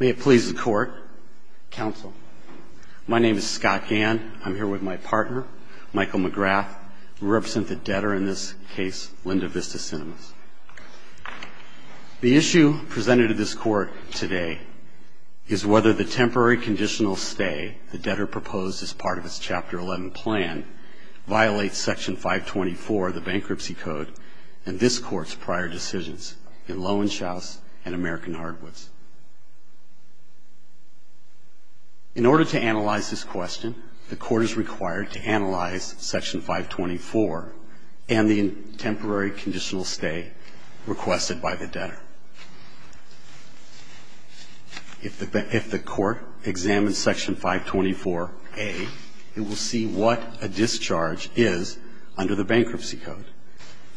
May it please the Court, Counsel. My name is Scott Gann. I'm here with my partner, Michael McGrath. We represent the debtor in this case, Linda Vista Cinemas. The issue presented to this Court today is whether the temporary conditional stay the debtor proposed as part of its Chapter 11 plan violates Section 524 of the Bankruptcy Code and this Court's prior decisions in Lowenshouse and American Hardwoods. In order to analyze this question, the Court is required to analyze Section 524 and the temporary conditional stay requested by the debtor. If the Court examines Section 524A, it will see what a discharge is under the Bankruptcy Code.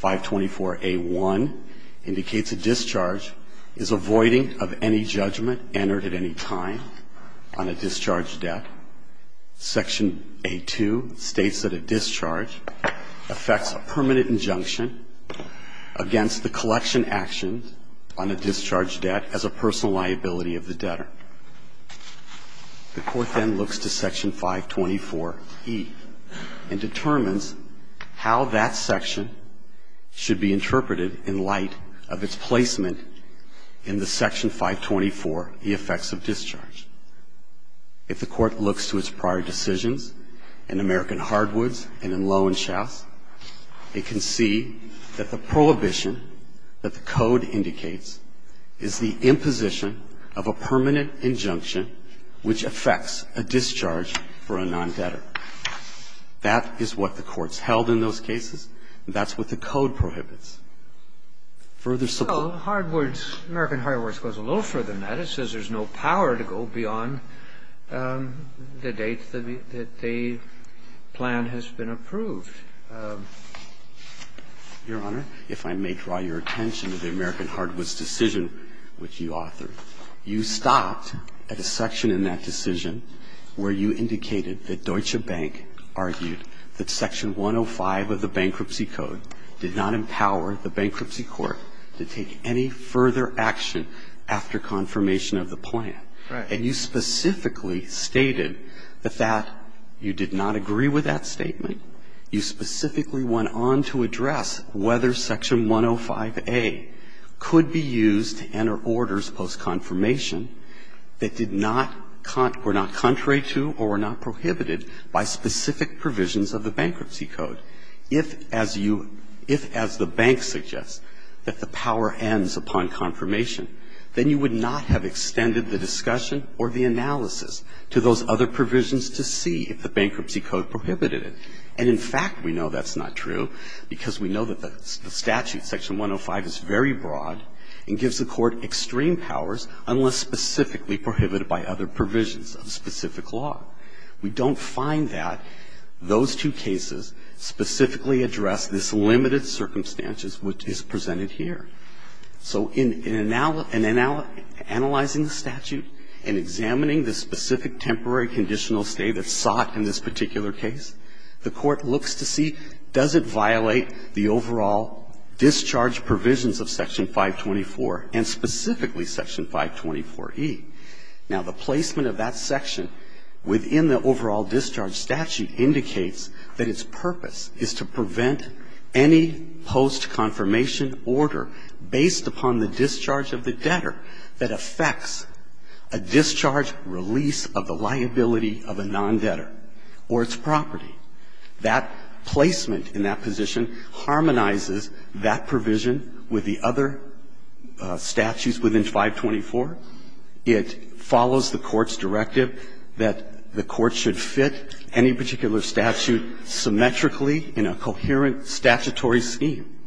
524A.1 indicates a discharge is avoiding of any judgment entered at any time on a discharged debt. Section A.2 states that a discharge affects a permanent injunction against the collection actions on a discharge debt as a personal liability of the debtor. The Court then looks to Section 524E and determines how that section should be interpreted in light of its placement in the Section 524, the effects of discharge. If the Court looks to its prior decisions in American Hardwoods and in American Hardwoods, it says that the only way to determine whether a discharge is a permanent injunction is the imposition of a permanent injunction which affects a discharge for a non-debtor. That is what the Court's held in those cases. That's what the Code prohibits. Further support? The Court's held that Section 105A, the decision which you authored, you stopped at a section in that decision where you indicated that Deutsche Bank argued that Section 105 of the Bankruptcy Code did not empower the Bankruptcy Court to take any further action after confirmation of the plan. And you specifically stated that that you did not agree with that statement. You specifically went on to address whether Section 105A could be used to enter orders post-confirmation that did not con or were not contrary to or were not prohibited by specific provisions of the Bankruptcy Code. If, as you – if, as the Bank suggests, that the power ends upon confirmation, then you would not have extended the discussion or the analysis to those other provisions to see if the Bankruptcy Code prohibited it. And, in fact, we know that's not true, because we know that the statute, Section 105, is very broad and gives the Court extreme powers unless specifically prohibited by other provisions of specific law. We don't find that those two cases specifically address this limited circumstances which is presented here. So in analyzing the statute and examining the specific temporary conditional stay that's sought in this particular case, the Court looks to see does it violate the overall discharge provisions of Section 524 and specifically Section 524E. Now, the placement of that section within the overall discharge statute indicates that its purpose is to prevent any post-confirmation order based upon the discharge of the debtor that affects a discharge release of the liability of a non-debtor or its property. That placement in that position harmonizes that provision with the other statutes within 524. It follows the Court's directive that the Court should fit any particular statute symmetrically in a coherent statutory scheme.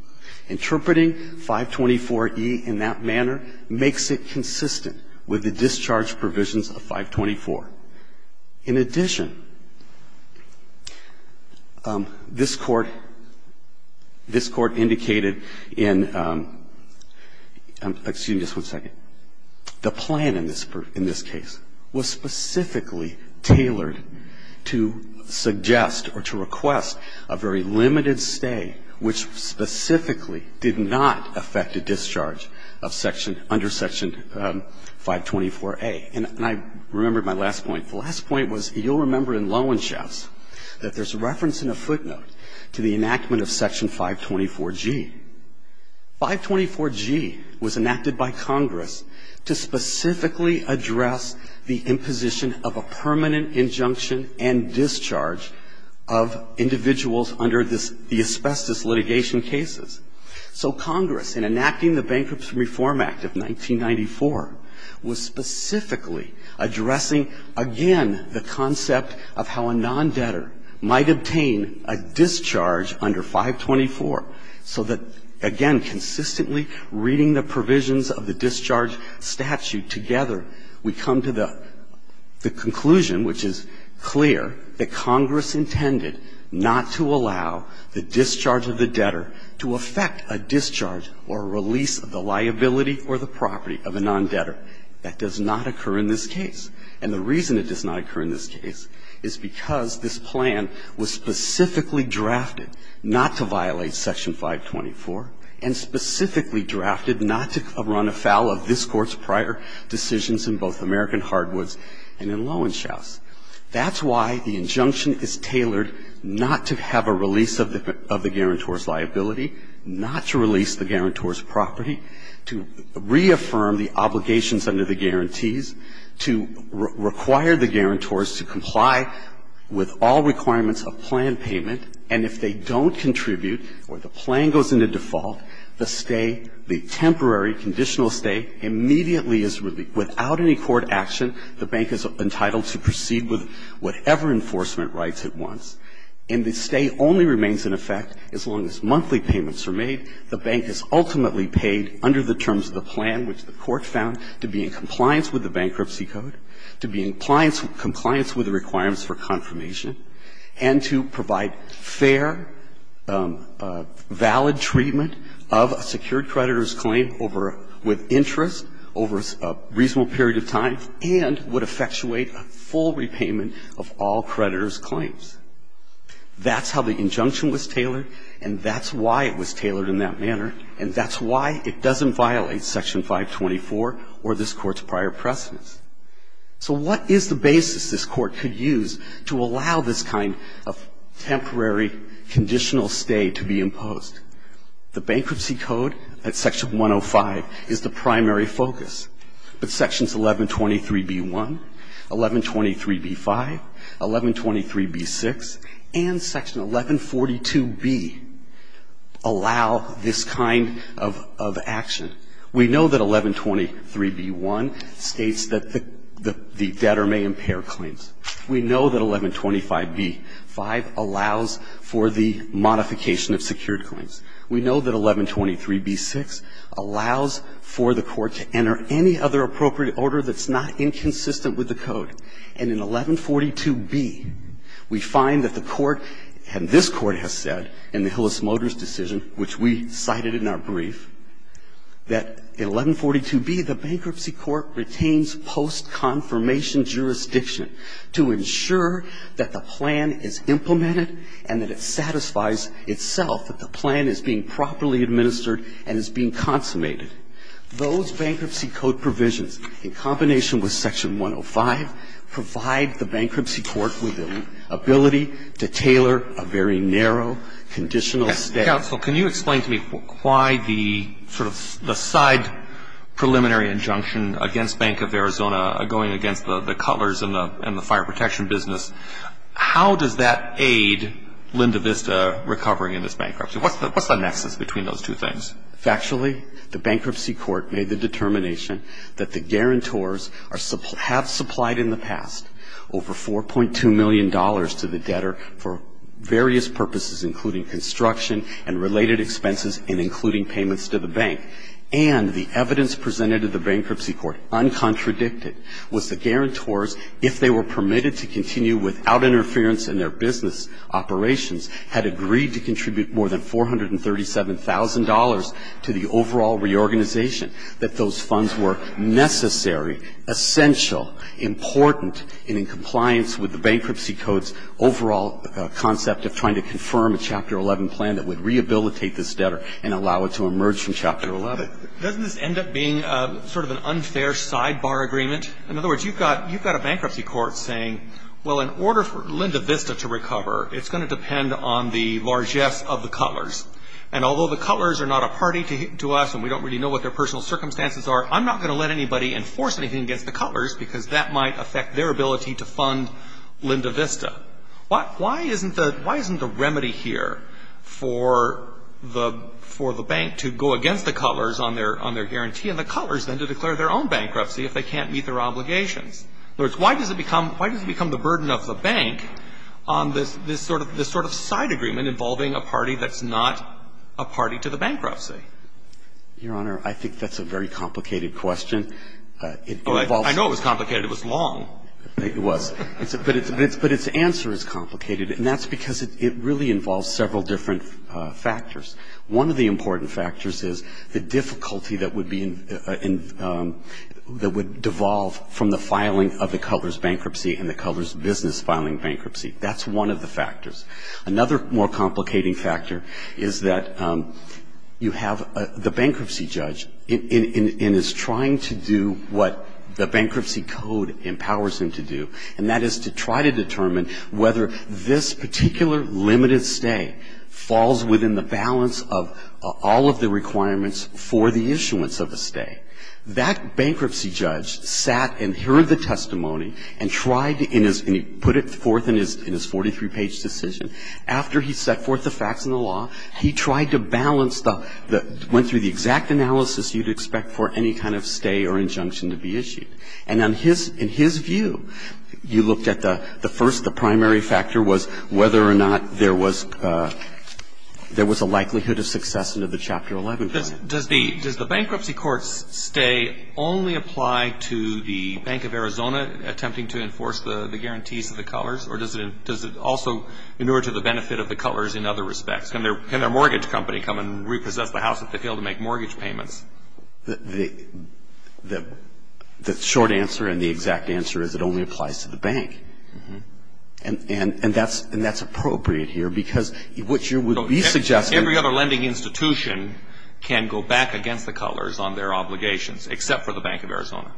Interpreting 524E in that manner makes it consistent with the discharge provisions of 524. In addition, this Court, this Court indicated in, excuse me, this one's going to take a second, the plan in this case was specifically tailored to suggest or to request a very limited stay which specifically did not affect a discharge of Section, under Section 524A. And I remembered my last point. The last point was you'll remember in Lowenstrasse that there's a reference in a footnote to the enactment of Section 524G. 524G was enacted by Congress to specifically address the imposition of a permanent injunction and discharge of individuals under this, the asbestos litigation cases. So Congress, in enacting the Bankruptcy Reform Act of 1994, was specifically addressing, again, the concept of how a non-debtor might obtain a discharge under 524, so that, again, consistently reading the provisions of the discharge statute together, we come to the conclusion which is clear that Congress intended not to allow the discharge of the debtor to affect a discharge or release of the liability or the property of a non-debtor. Now, the reason that that does not occur in this case, and the reason it does not occur in this case, is because this plan was specifically drafted not to violate Section 524 and specifically drafted not to run afoul of this Court's prior decisions in both American Hardwoods and in Lowenstrasse. That's why the injunction is tailored not to have a release of the guarantor's liability, not to release the guarantor's property, to reaffirm the obligations under the guarantees, to require the guarantors to comply with all requirements of plan payment, and if they don't contribute or the plan goes into default, the stay, the temporary conditional stay, immediately is released. Without any court action, the bank is entitled to proceed with whatever enforcement rights it wants. And the stay only remains in effect as long as monthly payments are made. The bank is ultimately paid under the terms of the plan which the Court found to be in compliance with the Bankruptcy Code, to be in compliance with the requirements for confirmation, and to provide fair, valid treatment of a secured creditor's claim with interest over a reasonable period of time and would effectuate a full repayment of all creditors' claims. That's how the injunction was tailored and that's why it was tailored in that manner and that's why it doesn't violate Section 524 or this Court's prior precedents. So what is the basis this Court could use to allow this kind of temporary conditional stay to be imposed? The Bankruptcy Code at Section 105 is the primary focus, but Sections 1123b-1, 1123b-5, 1123b-6, and Section 1142b allow this kind of action. We know that 1123b-1 states that the debtor may impair their claims. We know that 1125b-5 allows for the modification of secured claims. We know that 1123b-6 allows for the Court to enter any other appropriate order that's not inconsistent with the Code. And in 1142b, we find that the Court and this Court has said in the Hillis-Motors decision, which we cited in our brief, that in 1142b, the Bankruptcy Court retains post-confirmation jurisdiction to ensure that the plan is implemented and that it satisfies itself, that the plan is being properly administered and is being consummated. Those Bankruptcy Code provisions, in combination with Section 105, provide the Bankruptcy Court with the ability to tailor a very narrow conditional stay. Mr. Counsel, can you explain to me why the sort of side preliminary injunction against Bank of Arizona going against the Cutlers and the fire protection business, how does that aid Linda Vista recovering in this bankruptcy? What's the nexus between those two things? Factually, the Bankruptcy Court made the determination that the guarantors have supplied in the past over $4.2 million to the debtor for various purposes, including construction and related expenses and including payments to the bank. And the evidence presented to the Bankruptcy Court, uncontradicted, was the guarantors, if they were permitted to continue without interference in their business operations, had agreed to contribute more than $437,000 to the overall reorganization, that those funds were necessary, essential, important, and in compliance with the Bankruptcy Code's overall concept of trying to confirm a Chapter 11 plan that would rehabilitate this debtor and allow it to emerge from Chapter 11. Doesn't this end up being sort of an unfair sidebar agreement? In other words, you've got a Bankruptcy Court saying, well, in order for Linda Vista to recover, it's going to depend on the largesse of the Cutlers. And although the Cutlers are not a party to us and we don't really know what their personal circumstances are, I'm not going to let anybody enforce anything against the Cutlers because that might affect their ability to fund Linda Vista. Why isn't the remedy here for the Bank to go against the Cutlers on their guarantee and the Cutlers then to declare their own bankruptcy if they can't meet their obligations? In other words, why does it become the burden of the Bank on this sort of side agreement involving a party that's not a party to the bankruptcy? Your Honor, I think that's a very complicated question. I know it was complicated. It was long. It was. But its answer is complicated, and that's because it really involves several different factors. One of the important factors is the difficulty that would be in the – that would devolve from the filing of the Cutlers bankruptcy and the Cutlers business filing bankruptcy. That's one of the factors. Another more complicating factor is that you have the bankruptcy judge and is trying to do what the bankruptcy code empowers him to do, and that is to try to determine whether this particular limited stay falls within the balance of all of the requirements for the issuance of a stay. That bankruptcy judge sat and heard the testimony and tried to – and he put it forth in his 43-page decision. After he set forth the facts and the law, he tried to balance the – went through the exact analysis you'd expect for any kind of stay or injunction to be issued. And on his – in his view, you looked at the first – the primary factor was whether or not there was – there was a likelihood of success under the Chapter 11 clause. Does the bankruptcy court's stay only apply to the Bank of Arizona attempting to enforce the guarantees of the Cutlers? Or does it – does it also inure to the benefit of the Cutlers in other respects? Can their – can their mortgage company come and repossess the house if they fail to make mortgage payments? The – the short answer and the exact answer is it only applies to the Bank. Mm-hmm. And that's – and that's appropriate here, because what you would be suggesting – Every other lending institution can go back against the Cutlers on their obligations, except for the Bank of Arizona.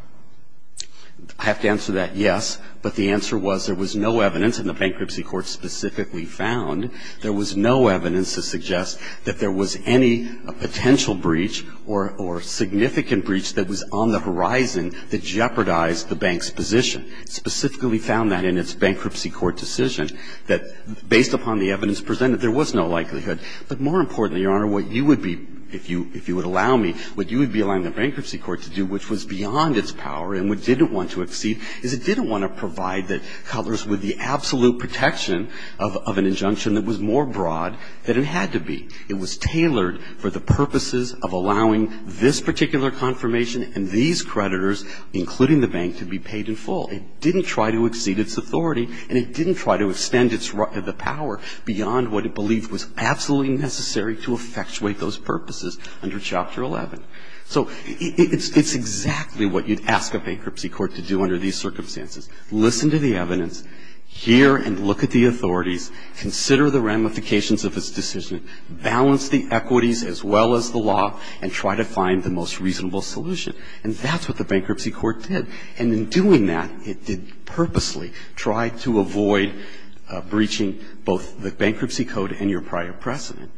I have to answer that, yes, but the answer was there was no evidence, and the bankruptcy court specifically found there was no evidence to suggest that there was any potential breach or – or significant breach that was on the horizon that jeopardized the Bank's position. It specifically found that in its bankruptcy court decision, that based upon the evidence presented, there was no likelihood. But more importantly, Your Honor, what you would be – if you – if you would allow me, what you would be allowing the bankruptcy court to do, which was beyond its power and what it didn't want to exceed, is it didn't want to provide the Cutlers with the absolute protection of an injunction that was more broad than it had to be. It was tailored for the purposes of allowing this particular confirmation and these creditors, including the Bank, to be paid in full. It didn't try to exceed its authority, and it didn't try to extend its – the power beyond what it believed was absolutely necessary to effectuate those purposes under Chapter 11. So it's – it's exactly what you'd ask a bankruptcy court to do under these circumstances, listen to the evidence, hear and look at the authorities, consider the ramifications of its decision, balance the equities as well as the law, and try to find the most reasonable solution. And that's what the bankruptcy court did. And in doing that, it did purposely try to avoid breaching both the bankruptcy code and your prior precedent.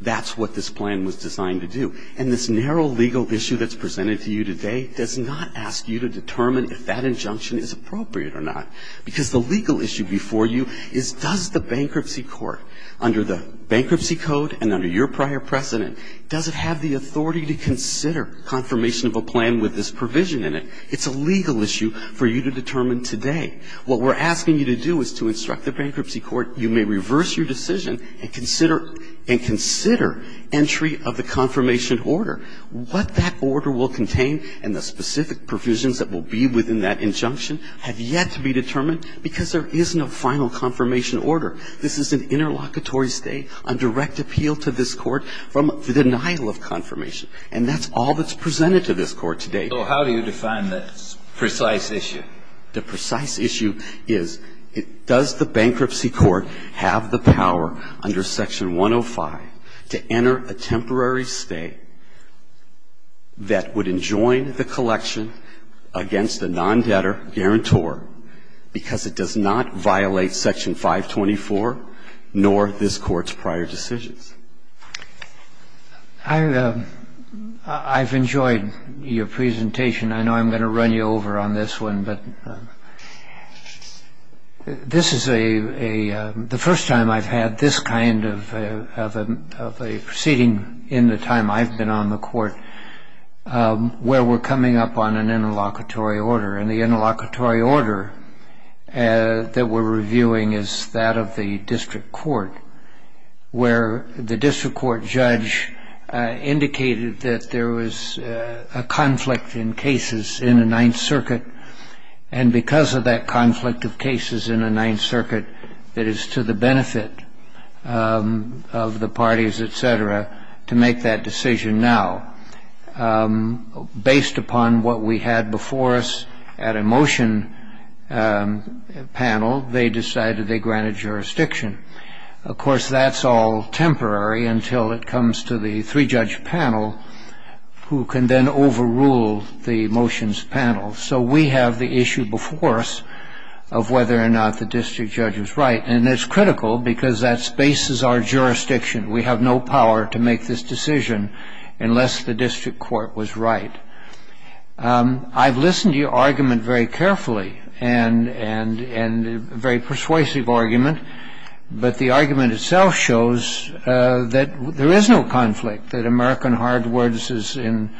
That's what this plan was designed to do. And this narrow legal issue that's presented to you today does not ask you to determine if that injunction is appropriate or not. Because the legal issue before you is does the bankruptcy court, under the bankruptcy code and under your prior precedent, does it have the authority to consider confirmation of a plan with this provision in it? It's a legal issue for you to determine today. What we're asking you to do is to instruct the bankruptcy court, you may reverse your decision and consider – and consider entry of the confirmation order. What that order will contain and the specific provisions that will be within that injunction have yet to be determined because there is no final confirmation order. This is an interlocutory state, a direct appeal to this court from the denial of confirmation. And that's all that's presented to this court today. So how do you define this precise issue? The precise issue is does the bankruptcy court have the power under Section 105 to enter a temporary stay that would enjoin the collection against a non-debtor guarantor because it does not violate Section 524 nor this court's prior decisions? I've enjoyed your presentation. I know I'm going to run you over on this one, but this is a – the first time I've had this kind of a proceeding in the time I've been on the court where we're coming up on an interlocutory order. And the interlocutory order that we're reviewing is that of the district court where the district court judge indicated that there was a conflict in cases in the Ninth Circuit. And because of that conflict of cases in the Ninth Circuit, it is to the benefit of the parties, et cetera, to make that decision now. Based upon what we had before us at a motion panel, they decided they granted jurisdiction. Of course, that's all temporary until it comes to the three-judge panel who can then overrule the motions panel. So we have the issue before us of whether or not the district judge was right. And it's critical because that spaces our jurisdiction. We have no power to make this decision unless the district court was right. I've listened to your argument very carefully and a very persuasive argument. But the argument itself shows that there is no conflict, that American hard words is in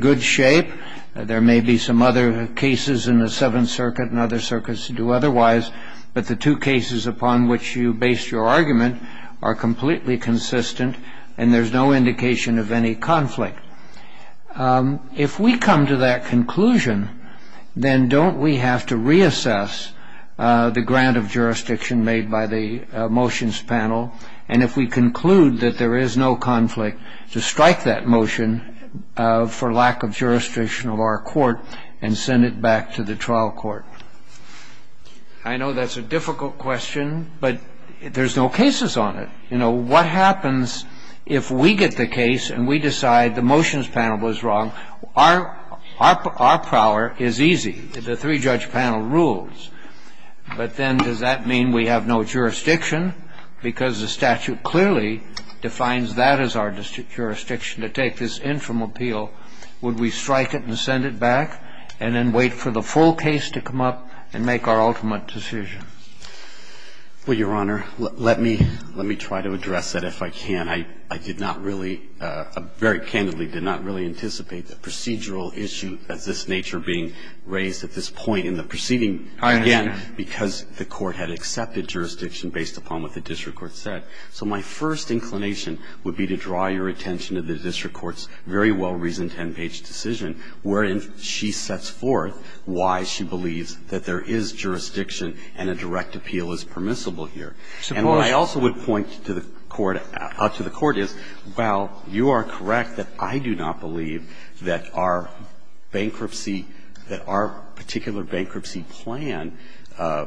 good shape. There may be some other cases in the Seventh Circuit and other circuits to do otherwise. But the two cases upon which you based your argument are completely consistent and there's no indication of any conflict. If we come to that conclusion, then don't we have to reassess the grant of jurisdiction made by the motions panel? And if we conclude that there is no conflict to strike that motion for lack of jurisdiction of our court and send it back to the trial court? I know that's a difficult question, but there's no cases on it. You know, what happens if we get the case and we decide the motions panel was wrong? Our power is easy. The three-judge panel rules. But then does that mean we have no jurisdiction because the statute clearly defines that as our jurisdiction to take this interim appeal? Would we strike it and send it back and then wait for the full case to come up and make our ultimate decision? Well, Your Honor, let me try to address that if I can. I did not really, very candidly, did not really anticipate the procedural issue of this nature being raised at this point in the proceeding, again, because the Court had accepted jurisdiction based upon what the district court said. So my first inclination would be to draw your attention to the district court's very well-reasoned ten-page decision wherein she sets forth why she believes that there is jurisdiction and a direct appeal is permissible here. And what I also would point to the Court is, while you are correct that I do not believe that our bankruptcy, that our particular bankruptcy plan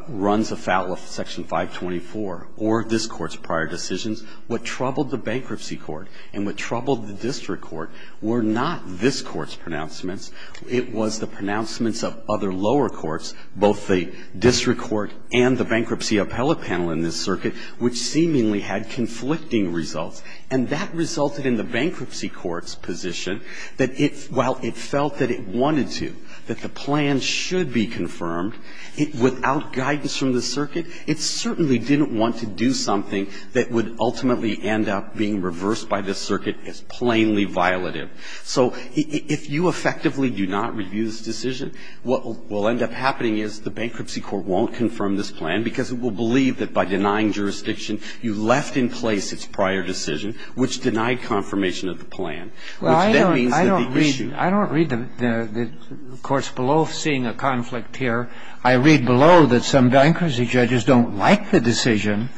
runs afoul of Section 524 or this Court's prior decisions, what troubled the bankruptcy court and what troubled the district court were not this Court's pronouncements. It was the pronouncements of other lower courts, both the district court and the bankruptcy appellate panel in this circuit, which seemingly had conflicting results, and that resulted in the bankruptcy court's position that it, while it felt that it wanted to, that the plan should be confirmed, without guidance from the circuit, it certainly didn't want to do something that would ultimately end up being reversed by this circuit as plainly violative. So if you effectively do not review this decision, what will end up happening is the bankruptcy court won't confirm this plan because it will believe that by denying jurisdiction, you left in place its prior decision, which denied confirmation of the plan, which then means that the issue. I don't read the courts below seeing a conflict here. I read below that some bankruptcy judges don't like the decision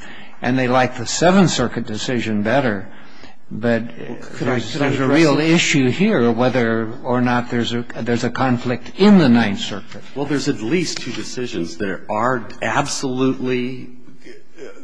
and they like the Ninth Circuit decision better. But there's a real issue here whether or not there's a conflict in the Ninth Circuit. Well, there's at least two decisions that are absolutely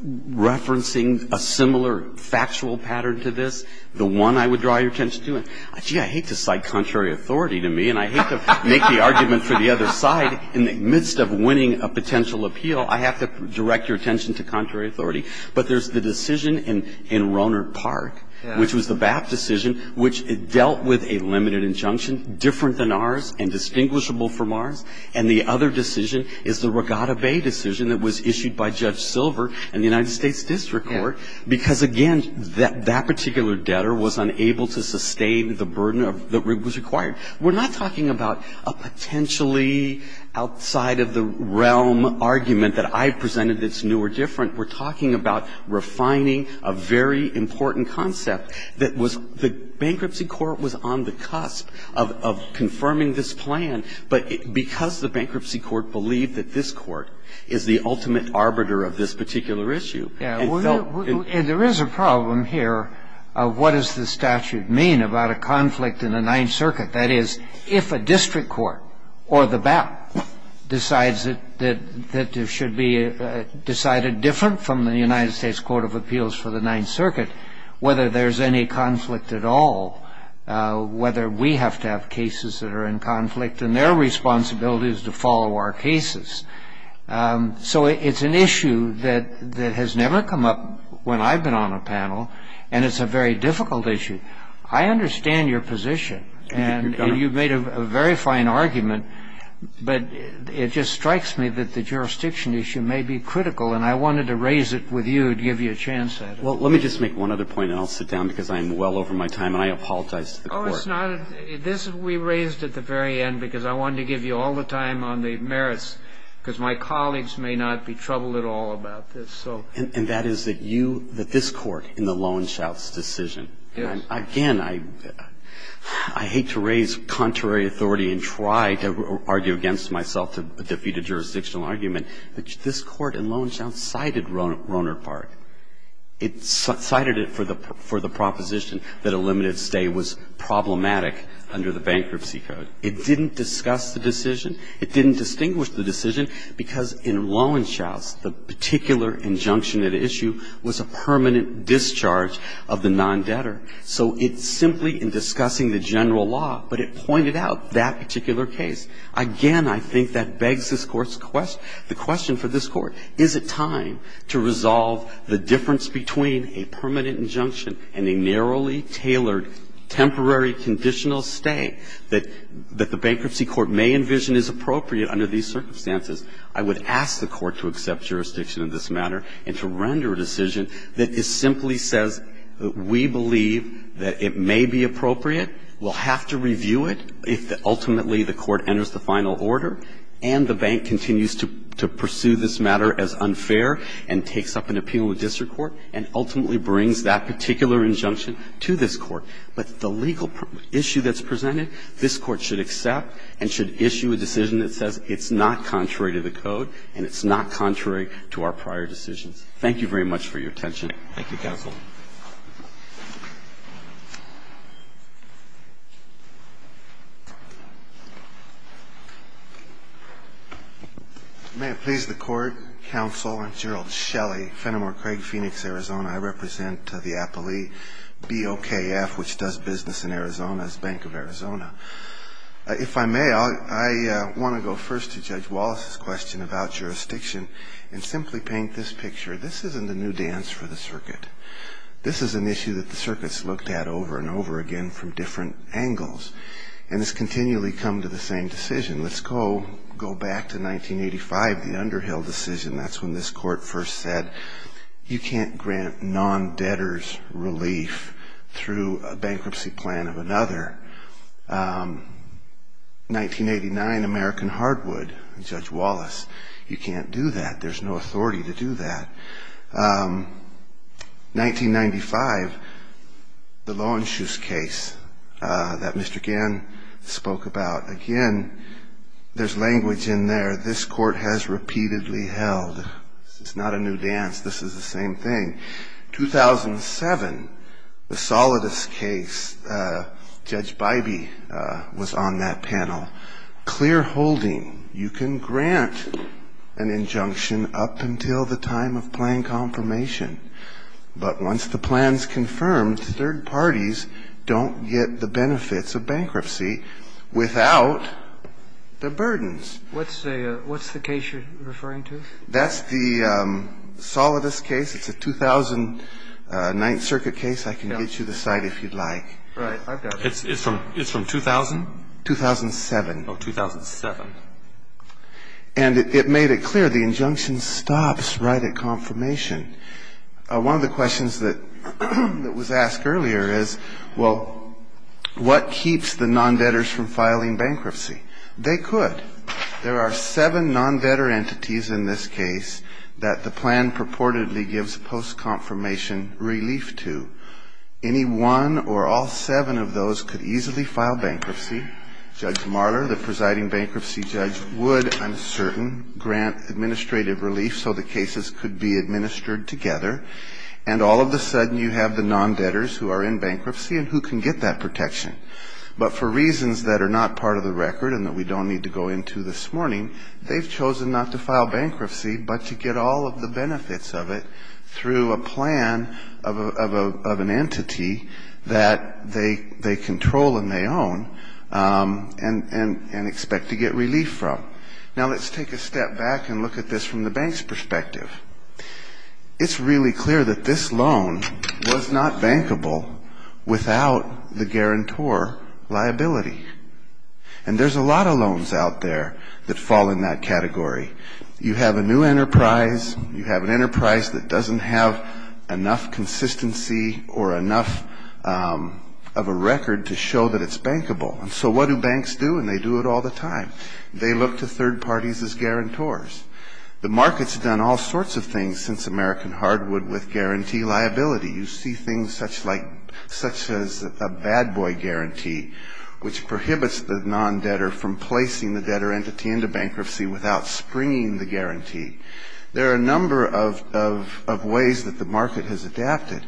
referencing a similar factual pattern to this. The one I would draw your attention to, gee, I hate to cite contrary authority to me and I hate to make the argument for the other side in the midst of winning a potential appeal. I have to direct your attention to contrary authority. But there's the decision in Rohnert Park, which was the BAP decision, which dealt with a limited injunction, different than ours and distinguishable from ours. And the other decision is the Regatta Bay decision that was issued by Judge Silver in the United States District Court because, again, that particular debtor was unable to sustain the burden that was required. We're not talking about a potentially outside-of-the-realm argument that I presented that's new or different. We're talking about refining a very important concept that was the Bankruptcy Court was on the cusp of confirming this plan, but because the Bankruptcy Court believed that this Court is the ultimate arbiter of this particular issue, it felt that it should be different. And there is a problem here of what does the statute mean about a conflict in the Ninth Circuit? That is, if a district court or the BAP decides that it should be decided different from the United States Court of Appeals for the Ninth Circuit, whether there's any conflict at all, whether we have to have cases that are in conflict, and their responsibility is to follow our cases. So it's an issue that has never come up when I've been on a panel, and it's a very difficult issue. I understand your position, and you've made a very fine argument. But it just strikes me that the jurisdiction issue may be critical, and I wanted to raise it with you and give you a chance at it. Well, let me just make one other point, and I'll sit down because I'm well over my time, and I apologize to the Court. Oh, it's not. This we raised at the very end because I wanted to give you all the time on the merits, because my colleagues may not be troubled at all about this. And that is that you, that this Court in the Loewenschutz decision, and again, I hate to raise contrary authority and try to argue against myself to defeat a jurisdictional argument, but this Court in Loewenschutz cited Rohnert Park. It cited it for the proposition that a limited stay was problematic under the bankruptcy code. It didn't discuss the decision. It didn't distinguish the decision, because in Loewenschutz, the particular injunction at issue was a permanent discharge of the non-debtor. So it's simply in discussing the general law, but it pointed out that particular case. Again, I think that begs this Court's question, the question for this Court, is it time to resolve the difference between a permanent injunction and a narrowly tailored temporary conditional stay that the bankruptcy court may envision is appropriate under these circumstances? I would ask the Court to accept jurisdiction in this matter and to render a decision that simply says we believe that it may be appropriate, we'll have to review it if ultimately the Court enters the final order, and the bank continues to pursue this matter as unfair and takes up an appeal with district court and ultimately brings that particular injunction to this Court. But the legal issue that's presented, this Court should accept and should issue a decision that says it's not contrary to the code and it's not contrary to our prior decisions. Thank you very much for your attention. Roberts. Thank you, counsel. May it please the Court, counsel, I'm Gerald Shelley, Fenimore Craig, Phoenix, Arizona. I represent the appellee BOKF, which does business in Arizona, as Bank of Arizona. If I may, I want to go first to Judge Wallace's question about jurisdiction and simply paint this picture. This isn't a new dance for the circuit. This is an issue that the circuit's looked at over and over again from different angles, and it's continually come to the same decision. Let's go back to 1985, the Underhill decision. That's when this Court first said you can't grant non-debtors relief through a bankruptcy plan of another. 1989, American Hardwood, Judge Wallace, you can't do that. There's no authority to do that. 1995, the Loewenschuss case that Mr. Gann spoke about. Again, there's language in there. This Court has repeatedly held. This is not a new dance. This is the same thing. 2007, the Solidus case, Judge Bybee was on that panel. Clearholding. You can grant an injunction up until the time of plan confirmation, but once the plan is confirmed, third parties don't get the benefits of bankruptcy without the burdens. What's the case you're referring to? That's the Solidus case. It's a 2009 circuit case. I can get you the site if you'd like. Right. I've got it. It's from 2000? 2007. Oh, 2007. And it made it clear the injunction stops right at confirmation. One of the questions that was asked earlier is, well, what keeps the non-debtors from filing bankruptcy? They could. There are seven non-debtor entities in this case that the plan purportedly gives post-confirmation relief to. Any one or all seven of those could easily file bankruptcy. Judge Marler, the presiding bankruptcy judge, would, I'm certain, grant administrative relief so the cases could be administered together. And all of a sudden you have the non-debtors who are in bankruptcy and who can get that protection. But for reasons that are not part of the record and that we don't need to go into this morning, they've chosen not to file bankruptcy, but to get all of the benefits of it through a plan of an entity that they control and they own and expect to get relief from. Now, let's take a step back and look at this from the bank's perspective. It's really clear that this loan was not bankable without the guarantor liability. And there's a lot of loans out there that fall in that category. You have a new enterprise. You have an enterprise that doesn't have enough consistency or enough of a record to show that it's bankable. And so what do banks do? And they do it all the time. They look to third parties as guarantors. The market's done all sorts of things since American hardwood with guarantee liability. You see things such as a bad boy guarantee, which prohibits the non-debtor from placing the guarantee. There are a number of ways that the market has adapted.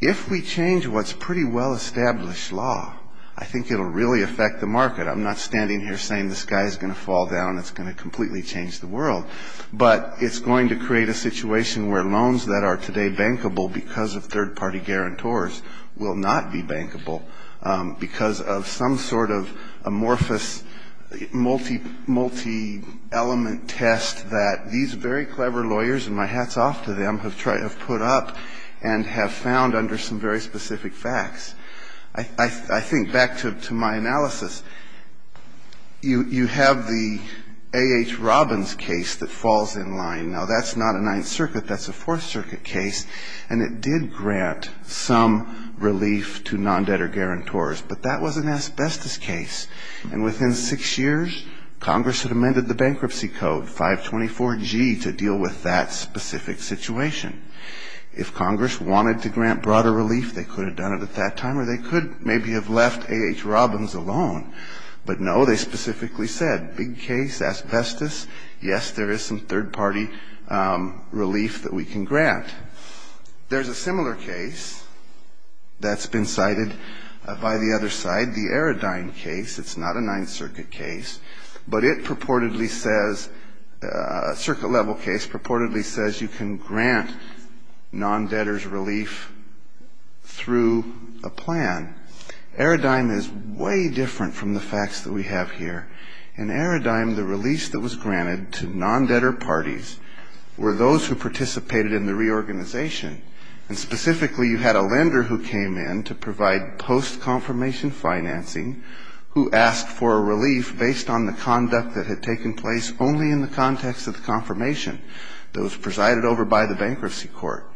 If we change what's pretty well-established law, I think it will really affect the market. I'm not standing here saying the sky is going to fall down, it's going to completely change the world. But it's going to create a situation where loans that are today bankable because of third-party guarantors will not be bankable because of some sort of amorphous multi-element test that these very clever lawyers, and my hat's off to them, have put up and have found under some very specific facts. I think back to my analysis, you have the A.H. Robbins case that falls in line. Now, that's not a Ninth Circuit. That's a Fourth Circuit case. And it did grant some relief to non-debtor guarantors. But that was an asbestos case. And within six years, Congress had amended the bankruptcy code, 524G, to deal with that specific situation. If Congress wanted to grant broader relief, they could have done it at that time, or they could maybe have left A.H. Robbins alone. But no, they specifically said, big case, asbestos, yes, there is some third-party relief that we can grant. There's a similar case that's been cited by the other side, the Eridine case. It's not a Ninth Circuit case, but it purportedly says, circuit-level case, purportedly says you can grant non-debtors relief through a plan. Eridine is way different from the facts that we have here. In Eridine, the relief that was granted to non-debtor parties were those who participated in the reorganization. And specifically, you had a lender who came in to provide post-confirmation financing who asked for a relief based on the conduct that had taken place only in the context of the confirmation that was presided over by the bankruptcy court.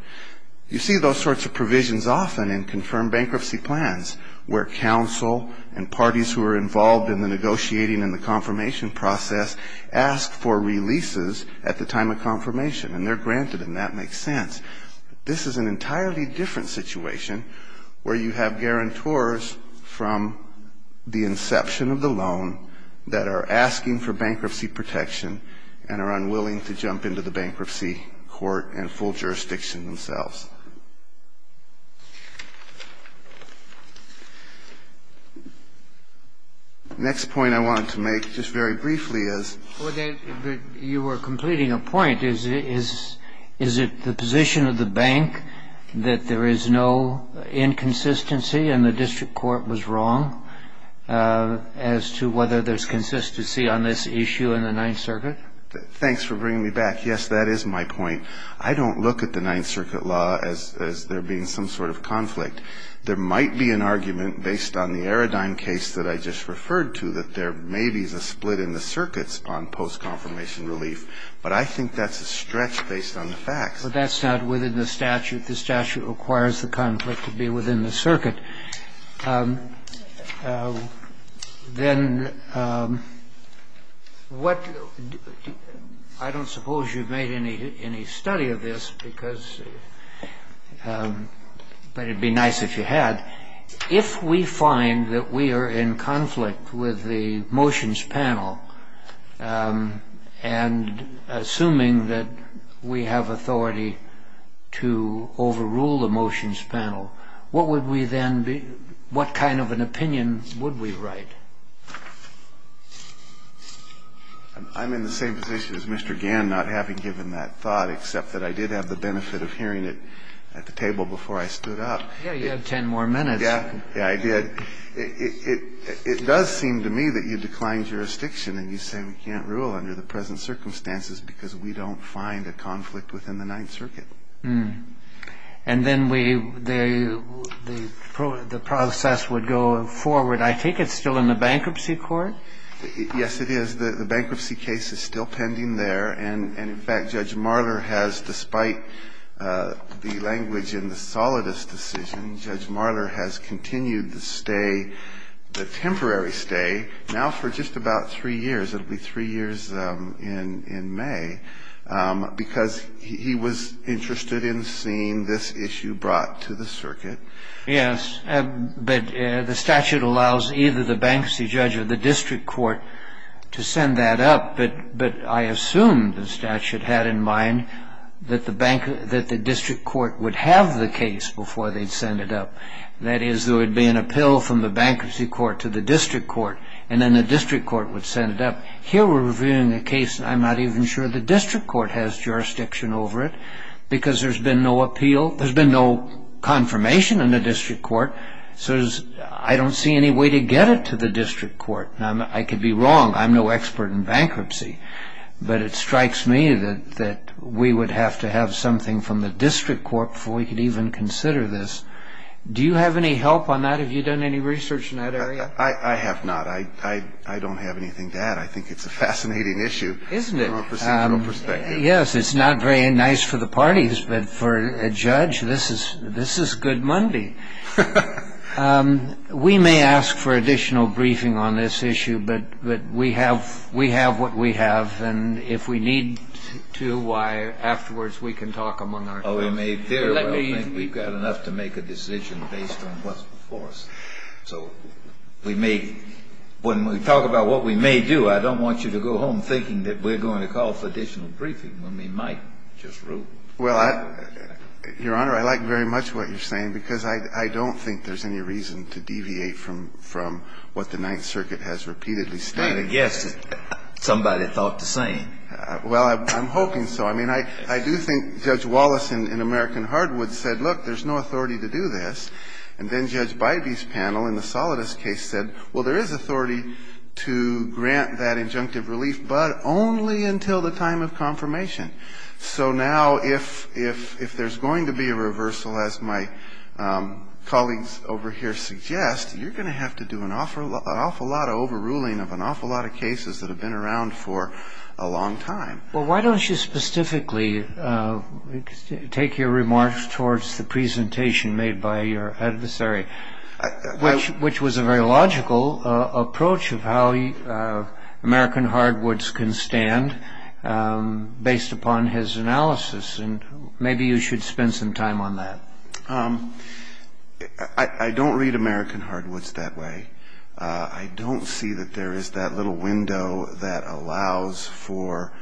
You see those sorts of provisions often in confirmed bankruptcy plans, where counsel and parties who are involved in the negotiating and the confirmation process ask for releases at the time of confirmation. And they're granted, and that makes sense. This is an entirely different situation where you have guarantors from the inception of the loan that are asking for bankruptcy protection and are unwilling to jump into the bankruptcy court and full jurisdiction themselves. The next point I wanted to make, just very briefly, is you were completing a point. Is it the position of the bank that there is no inconsistency and the district court was wrong as to whether there's consistency on this issue in the Ninth Circuit? Thanks for bringing me back. Yes, that is my point. I don't look at the Ninth Circuit law as there being some sort of conflict. There might be an argument based on the Aradine case that I just referred to that there may be a split in the circuits on post-confirmation relief, but I think that's a stretch based on the facts. But that's not within the statute. The statute requires the conflict to be within the circuit. Then what do you do? I don't suppose you've made any study of this, but it would be nice if you had. If we find that we are in conflict with the motions panel and assuming that we have authority to overrule the motions panel, what kind of an opinion would we write? I'm in the same position as Mr. Gann, not having given that thought, except that I did have the benefit of hearing it at the table before I stood up. Yeah, you have ten more minutes. Yeah, I did. It does seem to me that you decline jurisdiction and you say we can't rule under the present circumstances because we don't find a conflict within the Ninth Circuit. And then the process would go forward, I think it's still in the bankruptcy court? Yes, it is. The bankruptcy case is still pending there, and in fact Judge Marler has, despite the language in the solidus decision, Judge Marler has continued the stay, the temporary stay, now for just about three years. It will be three years in May, because he was in charge of the bankruptcy case. I'm interested in seeing this issue brought to the circuit. Yes, but the statute allows either the bankruptcy judge or the district court to send that up, but I assume the statute had in mind that the district court would have the case before they'd send it up. That is, there would be an appeal from the bankruptcy court to the district court, and then the district court would send it up. Here we're reviewing a case and I'm not even sure the district court has jurisdiction over it, because there's been no appeal, there's been no confirmation in the district court, so I don't see any way to get it to the district court. I could be wrong, I'm no expert in bankruptcy, but it strikes me that we would have to have something from the district court before we could even consider this. Do you have any help on that? Have you done any research in that area? I have not. I don't have anything to add. I think it's a fascinating issue from a procedural perspective. Yes, it's not very nice for the parties, but for a judge, this is good Monday. We may ask for additional briefing on this issue, but we have what we have, and if we need to afterwards we can talk among ourselves. Or we may very well think we've got enough to make a decision based on what's before us. So we may, when we talk about what we may do, I don't want you to go home thinking that we're going to call for additional briefing when we might just rule. Your Honor, I like very much what you're saying, because I don't think there's any reason to deviate from what the Ninth Circuit has repeatedly stated. Well, I'm hoping so. I mean, I do think Judge Wallace in American Hardwood said, look, there's no authority to do this. And then Judge Bybee's panel in the Solidus case said, well, there is authority to grant that injunctive relief, but only until the time of confirmation. So now if there's going to be a reversal, as my colleagues over here suggest, you're going to have to do an awful lot of overruling of an awful lot of cases that have been around for a long time. Well, why don't you specifically take your remarks towards the presentation made by your adversary, which was a very logical approach of how American Hardwood's can stand based upon his analysis. And maybe you should spend some time on that. I don't read American Hardwood's that way. I don't see that there is that little window that allows for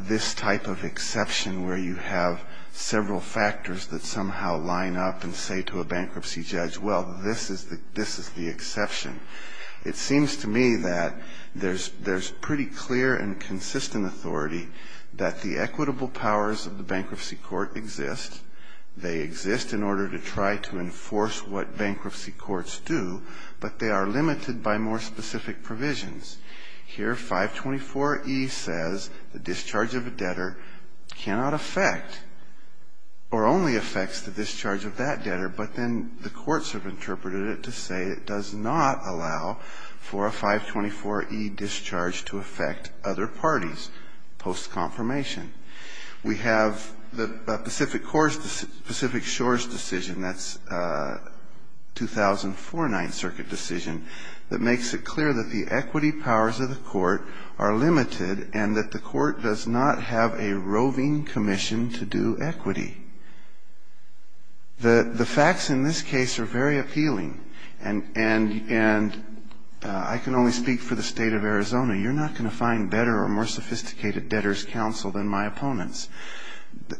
this type of exception where you have several factors that somehow line up and say to a bankruptcy judge, well, this is the exception. It seems to me that there's pretty clear and consistent authority that the equitable powers of the bankruptcy court exist. They exist in order to try to enforce what bankruptcy courts do, but they are limited by more specific provisions. Here 524E says the discharge of a debtor cannot affect or only affects the discharge of that debtor, but then the courts have interpreted it to say it does not allow for a 524E discharge to affect other parties post-confirmation. We have the Pacific Shores decision, that's 2004 Ninth Circuit decision, that makes it clear that the equity powers of the court are limited and that the court does not have a roving commission to do equity. The facts in this case are very appealing, and I can only speak for the state of Arizona. You're not going to find better or more sophisticated debtor's counsel than my opponents.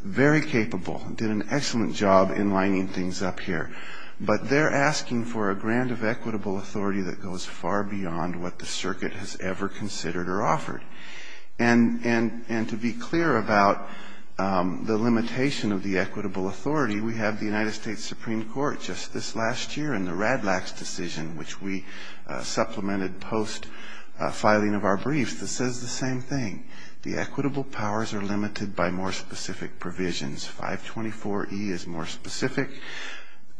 Very capable, did an excellent job in lining things up here. But they're asking for a grant of equitable authority that goes far beyond what the circuit has ever considered or offered. And to be clear about the limitation of the equitable authority, we have the United States Supreme Court, just this last year, in the Radlax decision, which we supplemented post-filing of our briefs, that says the same thing. The equitable powers are limited by more specific provisions. 524E is more specific.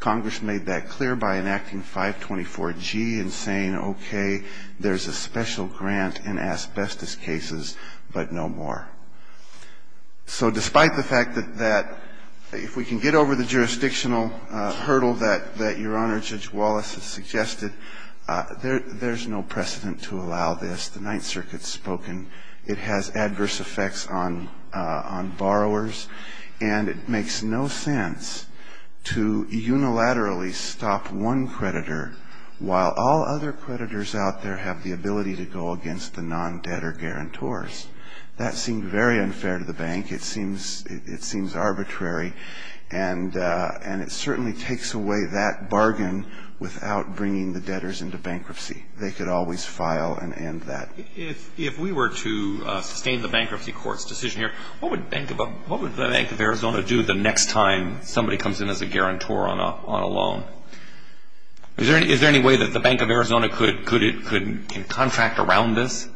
Congress made that clear by enacting 524G and saying, okay, there's a special grant in asbestos cases, but no more. So despite the fact that if we can get over the jurisdictional hurdle that Your Honor just mentioned, Judge Wallace has suggested, there's no precedent to allow this. The Ninth Circuit's spoken. It has adverse effects on borrowers, and it makes no sense to unilaterally stop one creditor, while all other creditors out there have the ability to go against the non-debtor guarantors. That seemed very unfair to the bank. It seems arbitrary, and it certainly takes away that bargain without bringing the debtors into bankruptcy. They could always file and end that. If we were to sustain the bankruptcy court's decision here, what would the Bank of Arizona do the next time somebody comes in as a guarantor on a loan? Is there any way that the Bank of Arizona could contract around this?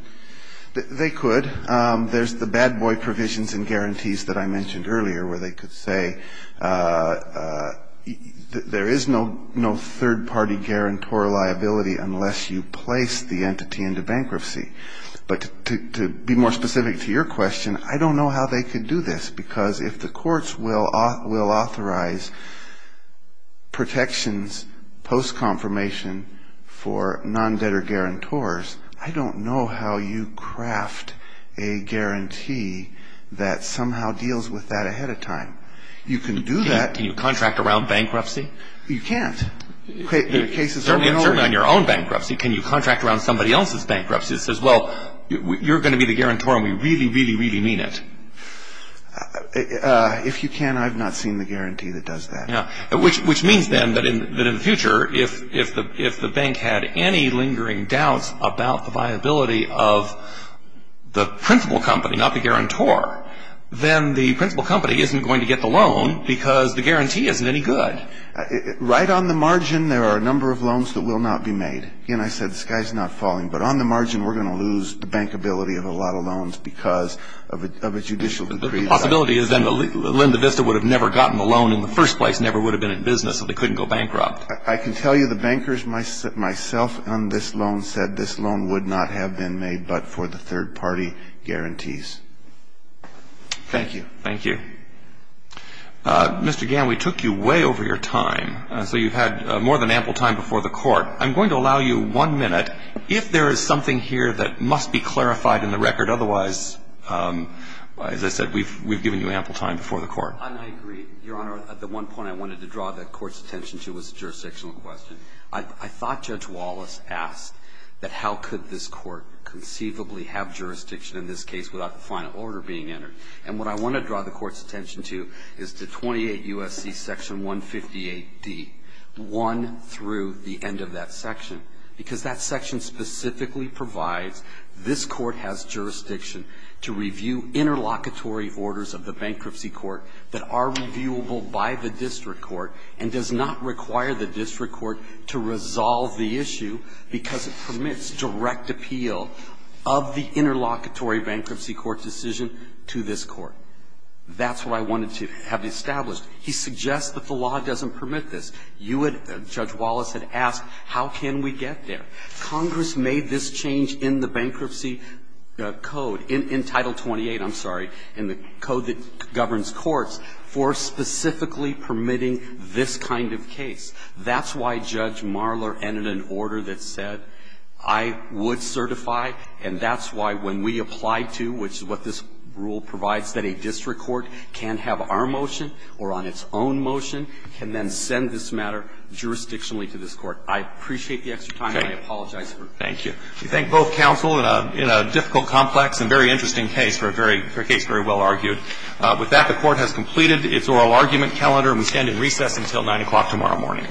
They could. There's the bad boy provisions and guarantees that I mentioned earlier where they could say there is no third-party guarantor liability unless you place the entity into bankruptcy. But to be more specific to your question, I don't know how they could do this, because if the courts will authorize protections post-confirmation for non-debtor guarantors, I don't know how you craft a guarantee that somehow deals with that ahead of time. You can do that. Can you contract around bankruptcy? You can't. Certainly not on your own bankruptcy. Can you contract around somebody else's bankruptcy that says, well, you're going to be the guarantor and we really, really, really mean it? If you can, I've not seen the guarantee that does that. Which means then that in the future, if the bank had any lingering doubts about the viability of the principal company, not the guarantor, then the principal company isn't going to get the loan because the guarantee isn't any good. Right on the margin, there are a number of loans that will not be made. Again, I said the sky's not falling, but on the margin, we're going to lose the bankability of a lot of loans because of a judicial decree. The possibility is then that LendaVista would have never gotten the loan in the first place, never would have been in business, so they couldn't go bankrupt. I can tell you the bankers myself on this loan said this loan would not have been made but for the third-party guarantees. Thank you. Mr. Gann, we took you way over your time. So you've had more than ample time before the Court. I'm going to allow you one minute. If there is something here that must be clarified in the record, otherwise, as I said, we've given you ample time before the Court. I agree, Your Honor. At the one point I wanted to draw the Court's attention to was the jurisdictional question. I thought Judge Wallace asked that how could this Court conceivably have jurisdiction in this case without the final order being entered. And what I want to draw the Court's attention to is to 28 U.S.C. Section 158D, 1 through the end of that section, because that section specifically provides this Court has jurisdiction to review interlocutory orders of the bankruptcy court that are reviewable by the court. And it does not require the district court to resolve the issue because it permits direct appeal of the interlocutory bankruptcy court decision to this Court. That's what I wanted to have established. He suggests that the law doesn't permit this. Judge Wallace had asked how can we get there. Congress made this change in the bankruptcy code, in Title 28, I'm sorry, in the code that governs courts, for specifically permitting this kind of case. That's why Judge Marler entered an order that said, I would certify, and that's why when we apply to, which is what this rule provides, that a district court can have our motion or on its own motion can then send this matter jurisdictionally to this Court. I appreciate the extra time, and I apologize for it. Thank you. We thank both counsel in a difficult, complex, and very interesting case for a case very well argued. With that, the Court has completed its oral argument calendar, and we stand in recess until 9 o'clock tomorrow morning.